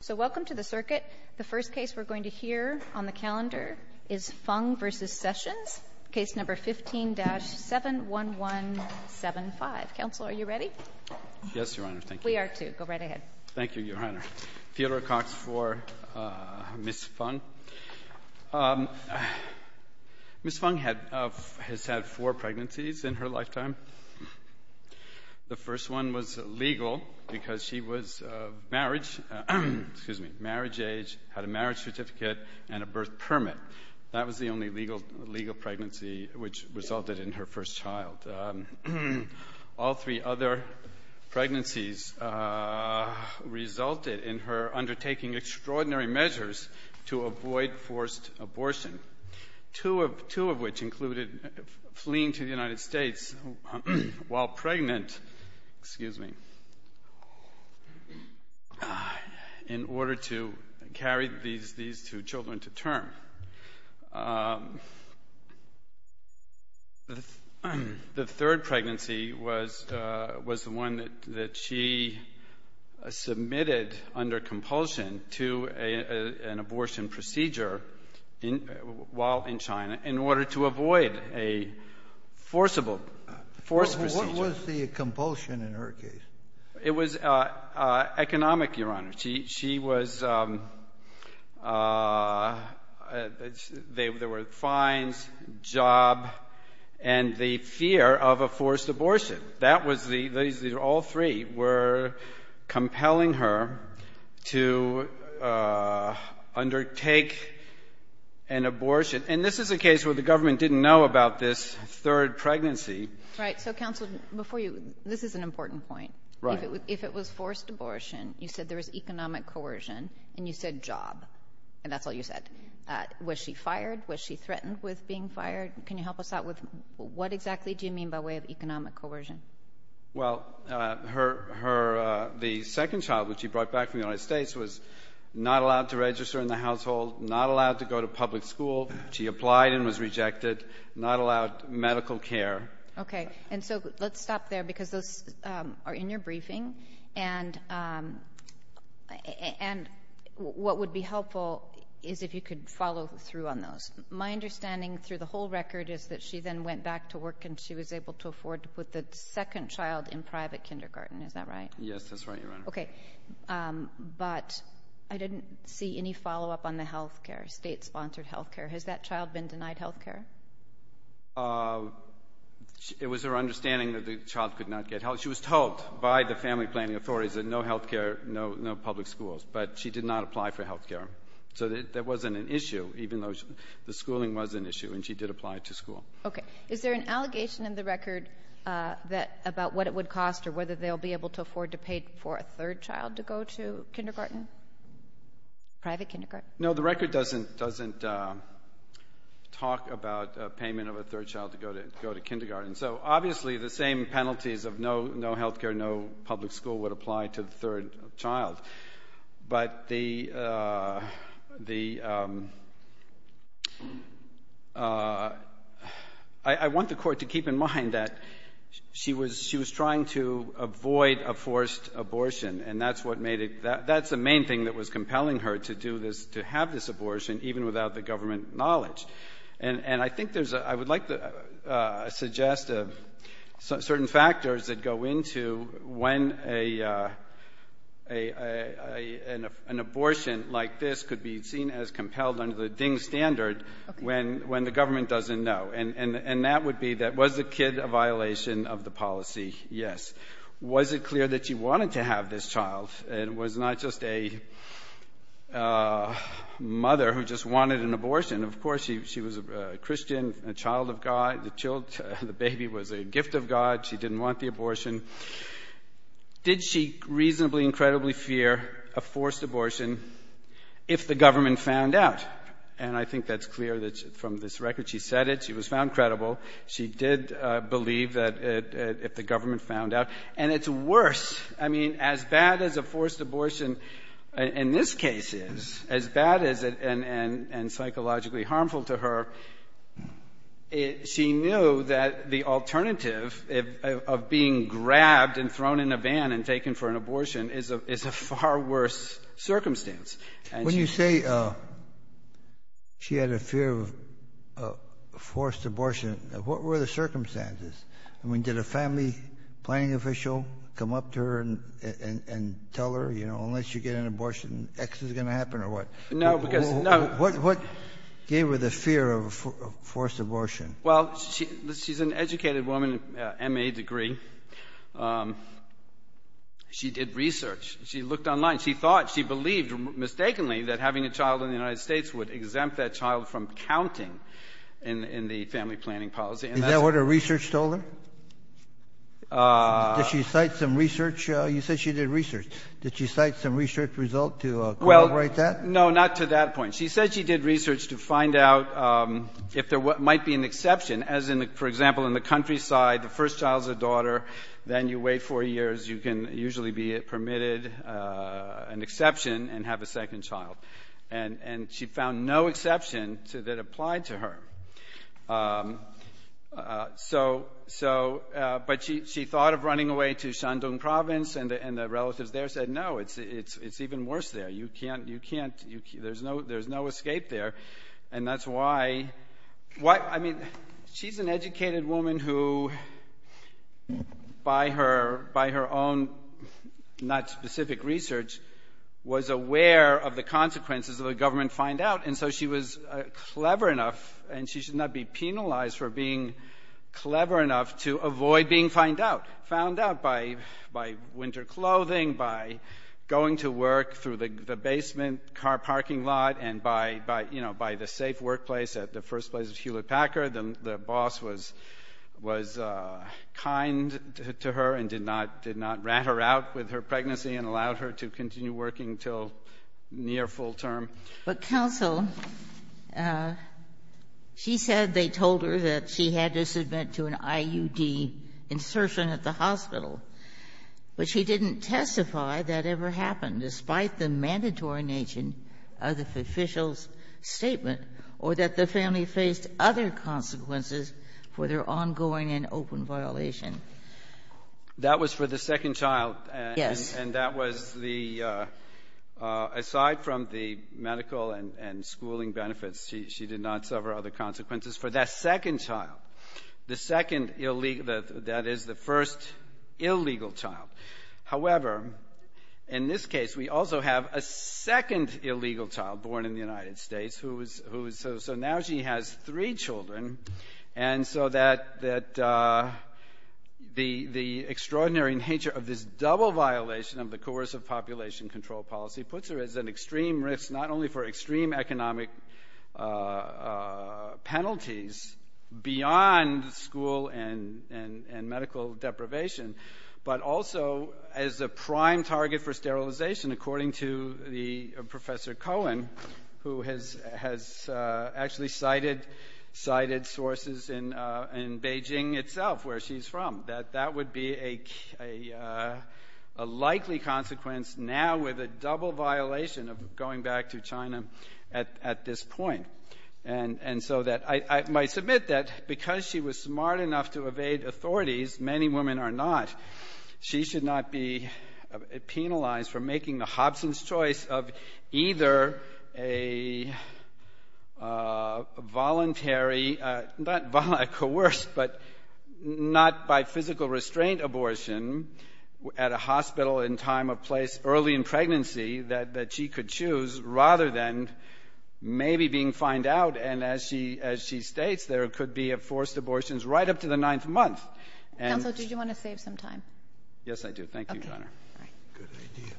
So welcome to the circuit. The first case we're going to hear on the calendar is Feng v. Sessions, case number 15-71175. Counsel, are you ready? Yes, Your Honor. Thank you. We are too. Go right ahead. Thank you, Your Honor. Theodore Cox for Ms. Feng. Ms. Feng has had four pregnancies in her lifetime. The first one was legal because she was marriage age, had a marriage certificate, and a birth permit. That was the only legal pregnancy which resulted in her first child. All three other pregnancies resulted in her undertaking extraordinary measures to avoid forced abortion, two of which included fleeing to the United States while pregnant in order to carry these two children to term. The third pregnancy was the one that she submitted under compulsion to an abortion procedure while in China in order to avoid a forcible forced procedure. What was the compulsion in her case? It was economic, Your Honor. She was — there were fines, job, and the fear of a forced abortion. That was the — all three were compelling her to undertake an abortion. And this is a case where the government didn't know about this third pregnancy. Right. So, Counsel, before you — this is an important point. Right. If it was forced abortion, you said there was economic coercion, and you said job, and that's all you said. Was she fired? Was she threatened with being fired? Can you help us out with what exactly do you mean by way of economic coercion? Well, her — the second child, which she brought back from the United States, was not allowed to register in the household, not allowed to go to public school. She applied and was rejected, not allowed medical care. Okay. And so let's stop there because those are in your briefing. And what would be helpful is if you could follow through on those. My understanding through the whole record is that she then went back to work, and she was able to afford to put the second child in private kindergarten. Is that right? Yes, that's right, Your Honor. Okay. But I didn't see any follow-up on the health care, state-sponsored health care. Has that child been denied health care? It was her understanding that the child could not get health — she was told by the family planning authorities that no health care, no public schools. But she did not apply for health care. So that wasn't an issue, even though the schooling was an issue, and she did apply to school. Okay. Is there an allegation in the record about what it would cost or whether they'll be able to afford to pay for a third child to go to kindergarten, private kindergarten? No, the record doesn't talk about payment of a third child to go to kindergarten. So obviously the same penalties of no health care, no public school would apply to the third child. But the — I want the Court to keep in mind that she was trying to avoid a forced abortion, and that's what made it — that's the main thing that was compelling her, to do this, to have this abortion, even without the government knowledge. And I think there's — I would like to suggest certain factors that go into when an abortion like this could be seen as compelled under the DING standard when the government doesn't know. And that would be that was the kid a violation of the policy? Yes. Was it clear that she wanted to have this child, and it was not just a mother who just wanted an abortion? Of course, she was a Christian, a child of God. The baby was a gift of God. She didn't want the abortion. Did she reasonably, incredibly fear a forced abortion if the government found out? And I think that's clear from this record. She said it. She was found credible. She did believe that if the government found out. And it's worse — I mean, as bad as a forced abortion in this case is, as bad as it — and psychologically harmful to her, she knew that the alternative of being grabbed and thrown in a van and taken for an abortion is a far worse circumstance. When you say she had a fear of forced abortion, what were the circumstances? I mean, did a family planning official come up to her and tell her, you know, unless you get an abortion, X is going to happen or what? No, because — no. What gave her the fear of forced abortion? Well, she's an educated woman, MA degree. She did research. She looked online. She thought, she believed mistakenly that having a child in the United States would exempt that child from counting in the family planning policy. Is that what her research told her? Did she cite some research? You said she did research. Did she cite some research result to corroborate that? No, not to that point. She said she did research to find out if there might be an exception, as in, for example, in the countryside, the first child's a daughter, then you wait four years, you can usually be permitted an exception and have a second child. And she found no exception that applied to her. So — but she thought of running away to Shandong province, and the relatives there said, no, it's even worse there. You can't — there's no escape there. And that's why — I mean, she's an educated woman who, by her own not-specific research, was aware of the consequences of a government find-out. And so she was clever enough, and she should not be penalized for being clever enough, to avoid being found out. By winter clothing, by going to work through the basement car parking lot, and by, you know, by the safe workplace at the first place of Hewlett-Packard, the boss was kind to her and did not rat her out with her pregnancy and allowed her to continue working until near full term. But, counsel, she said they told her that she had to submit to an IUD insertion at the hospital. But she didn't testify that ever happened, despite the mandatory nature of the official's statement, or that the family faced other consequences for their ongoing and open violation. That was for the second child. Yes. And that was the — aside from the medical and schooling benefits, she did not suffer other consequences for that second child, the second — that is, the first illegal child. However, in this case, we also have a second illegal child born in the United States who is — population control policy puts her as an extreme risk, not only for extreme economic penalties beyond school and medical deprivation, but also as a prime target for sterilization, according to Professor Cohen, who has actually cited sources in Beijing itself, where she's from. That that would be a likely consequence now with a double violation of going back to China at this point. And so that — I might submit that because she was smart enough to evade authorities, many women are not, she should not be penalized for making the Hobson's choice of either a voluntary — not violent coerced, but not by physical restraint abortion at a hospital in time of place early in pregnancy that she could choose, rather than maybe being fined out. And as she states, there could be forced abortions right up to the ninth month. Counsel, did you want to save some time? Yes, I do. Thank you, Your Honor. Okay. All right. Good idea.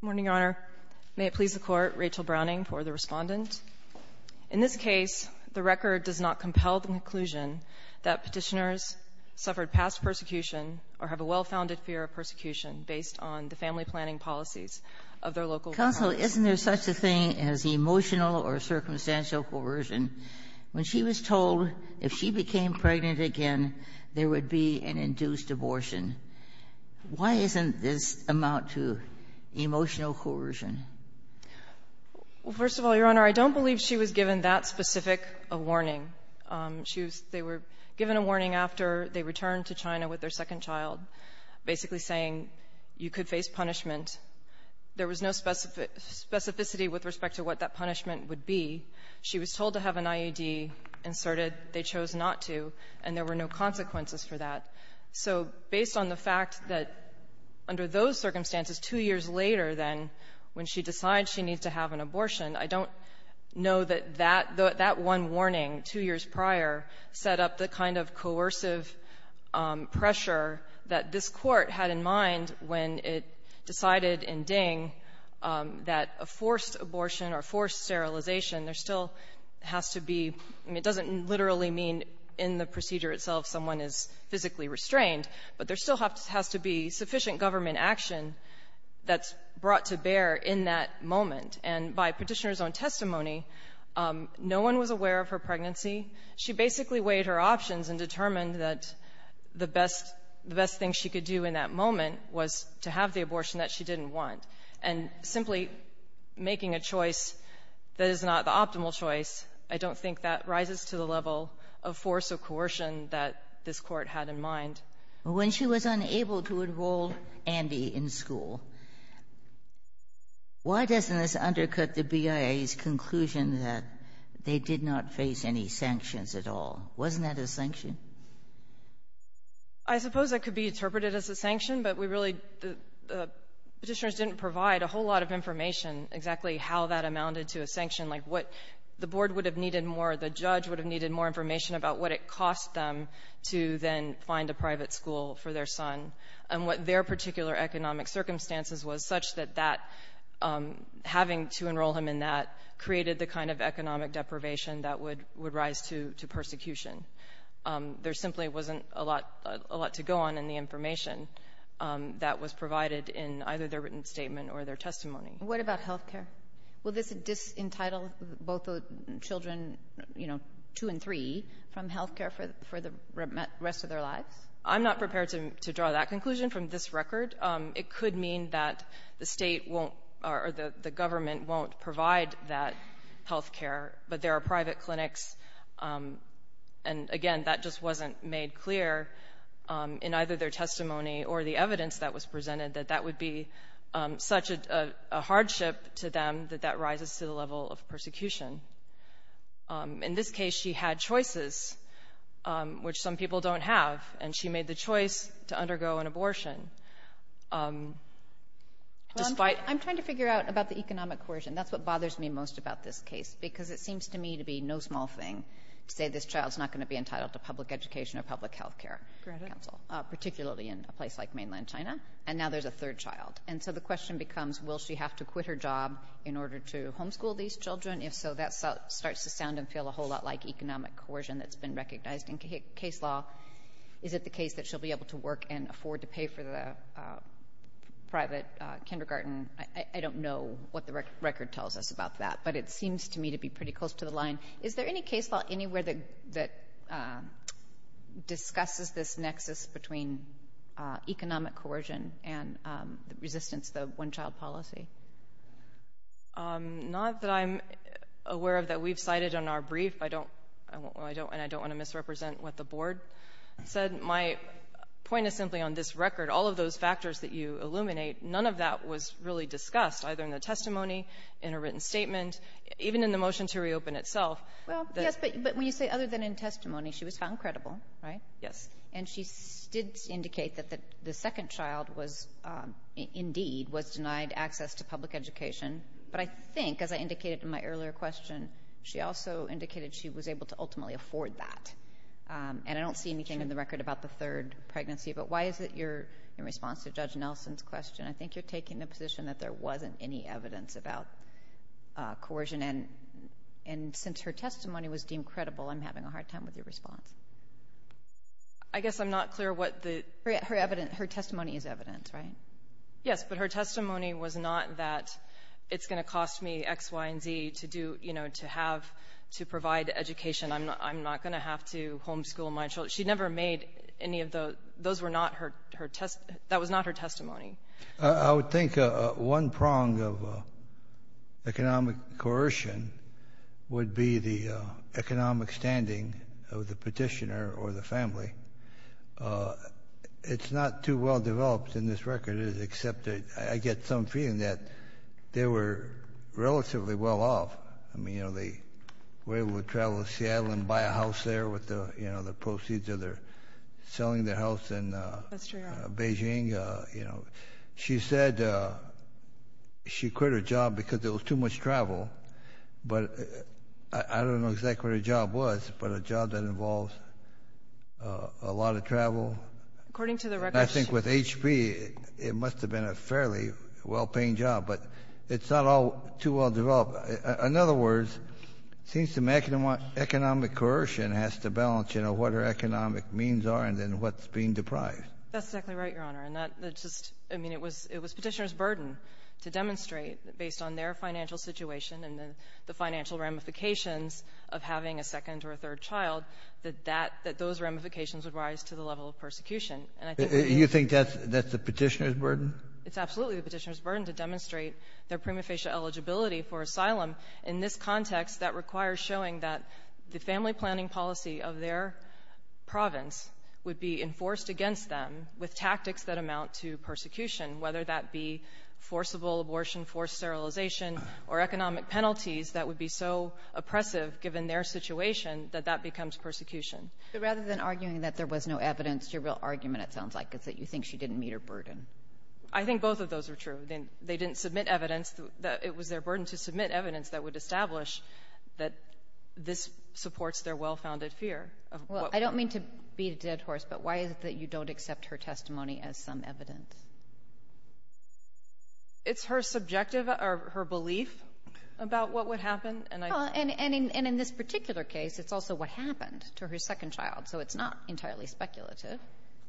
Good morning, Your Honor. May it please the Court, Rachel Browning for the Respondent. In this case, the record does not compel the conclusion that Petitioners suffered past persecution or have a well-founded fear of persecution based on the family planning policies of their local — Counsel, isn't there such a thing as emotional or circumstantial coercion? When she was told if she became pregnant again, there would be an induced abortion, why isn't this amount to emotional coercion? Well, first of all, Your Honor, I don't believe she was given that specific a warning. She was — they were given a warning after they returned to China with their second child, basically saying you could face punishment. There was no specificity with respect to what that punishment would be. She was told to have an IUD inserted. They chose not to, and there were no consequences for that. So based on the fact that under those circumstances, two years later then, when she decides she needs to have an abortion, I don't know that that — that one warning two years prior set up the kind of coercive pressure that this Court had in mind when it decided in Ding that a forced abortion or forced sterilization, there still has to be — I mean, it doesn't literally mean in the procedure itself someone is physically restrained, but there still has to be sufficient government action that's brought to bear in that moment. And by petitioner's own testimony, no one was aware of her pregnancy. She basically weighed her options and determined that the best — the best thing she could do in that moment was to have the abortion that she didn't want. And simply making a choice that is not the optimal choice, I don't think that rises to the level of force or coercion that this Court had in mind. When she was unable to enroll Andy in school, why doesn't this undercut the BIA's conclusion that they did not face any sanctions at all? Wasn't that a sanction? I suppose that could be interpreted as a sanction, but we really — the petitioners didn't provide a whole lot of information exactly how that amounted to a sanction, like what the Board would have needed more, the judge would have needed more information about what it cost them to then find a private school for their son, and what their particular economic circumstances was such that that — having to enroll him in that created the kind of economic deprivation that would rise to persecution. There simply wasn't a lot to go on in the information that was provided in either their written statement or their testimony. What about health care? Will this entitle both the children, you know, two and three, from health care for the rest of their lives? I'm not prepared to draw that conclusion from this record. It could mean that the state won't — or the government won't provide that health care, but there are private clinics, and again, that just wasn't made clear in either their testimony or the evidence that was presented, that that would be such a hardship to them that that rises to the level of persecution. In this case, she had choices, which some people don't have, and she made the choice to undergo an abortion, despite — Well, I'm trying to figure out about the economic coercion. That's what bothers me most about this case, because it seems to me to be no small thing to say this child's not going to be entitled to public education or public health care counsel, particularly in a place like mainland China, and now there's a third child. And so the question becomes, will she have to quit her job in order to homeschool these children? If so, that starts to sound and feel a whole lot like economic coercion that's been recognized in case law. Is it the case that she'll be able to work and afford to pay for the private kindergarten? I don't know what the record tells us about that, but it seems to me to be pretty close to the line. Is there any case law anywhere that discusses this nexus between economic coercion and resistance to the one-child policy? Not that I'm aware of that we've cited on our brief, and I don't want to misrepresent what the Board said. My point is simply on this record, all of those factors that you illuminate, none of that was really discussed, either in the testimony, in a written statement, even in the motion to reopen itself. Well, yes, but when you say other than in testimony, she was found credible, right? Yes. And she did indicate that the second child was, indeed, was denied access to public education. But I think, as I indicated in my earlier question, she also indicated she was able to ultimately afford that. And I don't see anything in the record about the third pregnancy. But why is it your response to Judge Nelson's question? I think you're taking the position that there wasn't any evidence about coercion. And since her testimony was deemed credible, I'm having a hard time with your response. I guess I'm not clear what the— Her testimony is evidence, right? Yes, but her testimony was not that it's going to cost me X, Y, and Z to provide education and I'm not going to have to homeschool my children. She never made any of those. Those were not her test—that was not her testimony. I would think one prong of economic coercion would be the economic standing of the Petitioner or the family. It's not too well developed in this record, except that I get some feeling that they were relatively well off. I mean, you know, they were able to travel to Seattle and buy a house there with the proceeds of their selling their house in Beijing. She said she quit her job because there was too much travel. But I don't know exactly what her job was, but a job that involves a lot of travel. According to the records— I think with HP, it must have been a fairly well-paying job. But it's not all too well developed. In other words, it seems to me economic coercion has to balance, you know, what her economic means are and then what's being deprived. That's exactly right, Your Honor. And that's just — I mean, it was Petitioner's burden to demonstrate, based on their financial situation and the financial ramifications of having a second or a third child, that that — that those ramifications would rise to the level of persecution. You think that's the Petitioner's burden? It's absolutely the Petitioner's burden to demonstrate their prima facie eligibility for asylum. In this context, that requires showing that the family planning policy of their province would be enforced against them with tactics that amount to persecution, whether that be forcible abortion, forced sterilization, or economic penalties that would be so oppressive, given their situation, that that becomes persecution. But rather than arguing that there was no evidence, your real argument, it sounds like, is that you think she didn't meet her burden. I think both of those are true. They didn't submit evidence. It was their burden to submit evidence that would establish that this supports their well-founded fear of what — Well, I don't mean to beat a dead horse, but why is it that you don't accept her testimony as some evidence? It's her subjective — or her belief about what would happen, and I — Well, and in this particular case, it's also what happened to her second child, so it's not entirely speculative.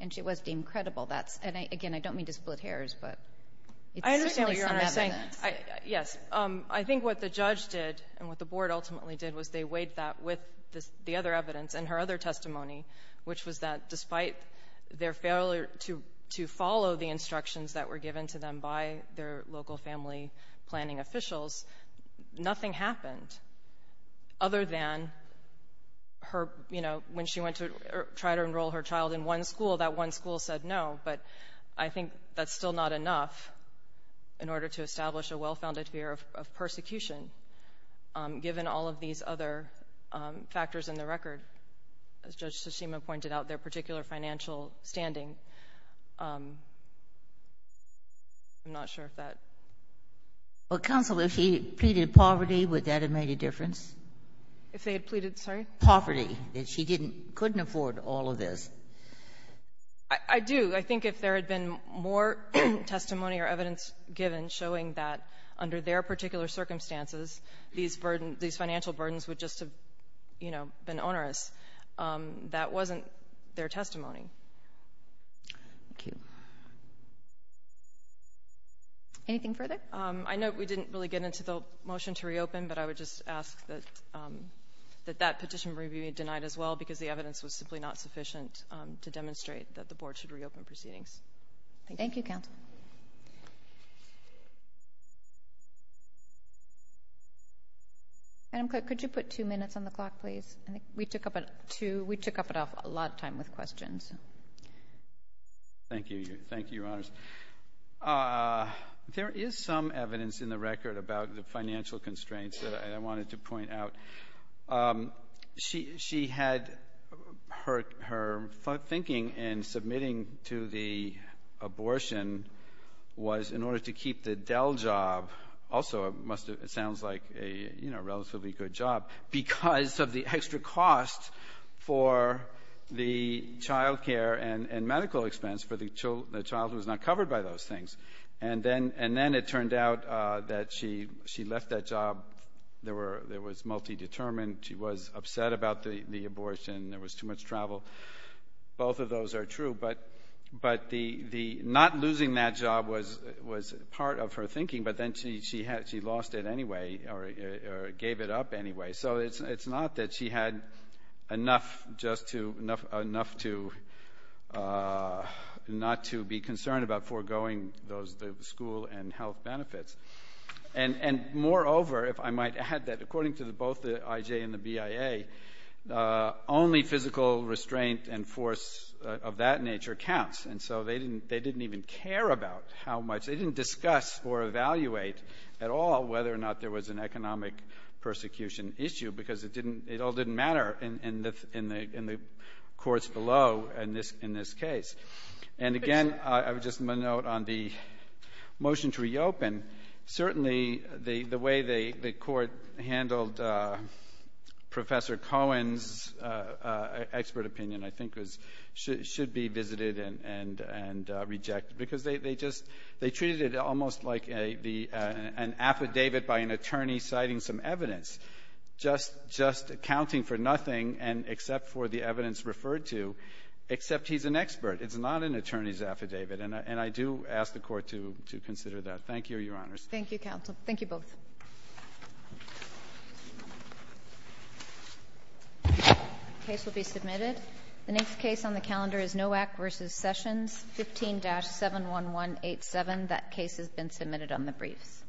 And she was deemed credible. That's — and again, I don't mean to split hairs, but it's certainly some evidence. I understand what you're saying. Yes. I think what the judge did and what the Board ultimately did was they weighed that with the other evidence and her other testimony, which was that despite their failure to follow the instructions that were given to them by their local family planning officials, nothing happened other than her — you know, when she went to try to enroll her child in one school, that one school said no. But I think that's still not enough in order to establish a well-founded fear of persecution, given all of these other factors in the record, as Judge Tsushima pointed out, their particular financial standing. I'm not sure if that — Well, counsel, if she pleaded poverty, would that have made a difference? If they had pleaded — sorry? Poverty, if she didn't — couldn't afford all of this. I do. I think if there had been more testimony or evidence given showing that under their particular circumstances, these financial burdens would just have, you know, been onerous, that wasn't their testimony. Thank you. Anything further? I know we didn't really get into the motion to reopen, but I would just ask that that petition be denied as well, because the evidence was simply not sufficient to demonstrate that the Board should reopen proceedings. Thank you. Thank you, counsel. Madam Clerk, could you put two minutes on the clock, please? I think we took up a lot of time with questions. Thank you. Thank you, Your Honors. There is some evidence in the record about the financial constraints, and I think she had — her thinking in submitting to the abortion was in order to keep the Dell job — also, it must have — it sounds like a, you know, relatively good job because of the extra cost for the child care and medical expense for the child who is not covered by those things. And then it turned out that she left that job, there was multi-determined, she was upset about the abortion, there was too much travel. Both of those are true, but not losing that job was part of her thinking, but then she lost it anyway, or gave it up anyway. So it's not that she had enough just to — enough to — not to be concerned about foregoing those — the school and health benefits. And moreover, if I might add that, according to both the IJ and the BIA, only physical restraint and force of that nature counts, and so they didn't even care about how much — they didn't discuss or evaluate at all whether or not there was an economic persecution issue because it didn't — it all didn't matter in the courts below in this case. And again, I would just note on the motion to reopen, certainly the way the court handled Professor Cohen's expert opinion, I think, should be visited and rejected, because they just — they treated it almost like an affidavit by an attorney citing some evidence, just accounting for nothing except for the evidence referred to, except he's an expert. It's not an attorney's affidavit, and I do ask the Court to consider that. Thank you, Your Honors. Thank you, counsel. Thank you both. The case will be submitted. The next case on the calendar is Nowak v. Sessions, 15-71187. That case has been submitted on the briefs.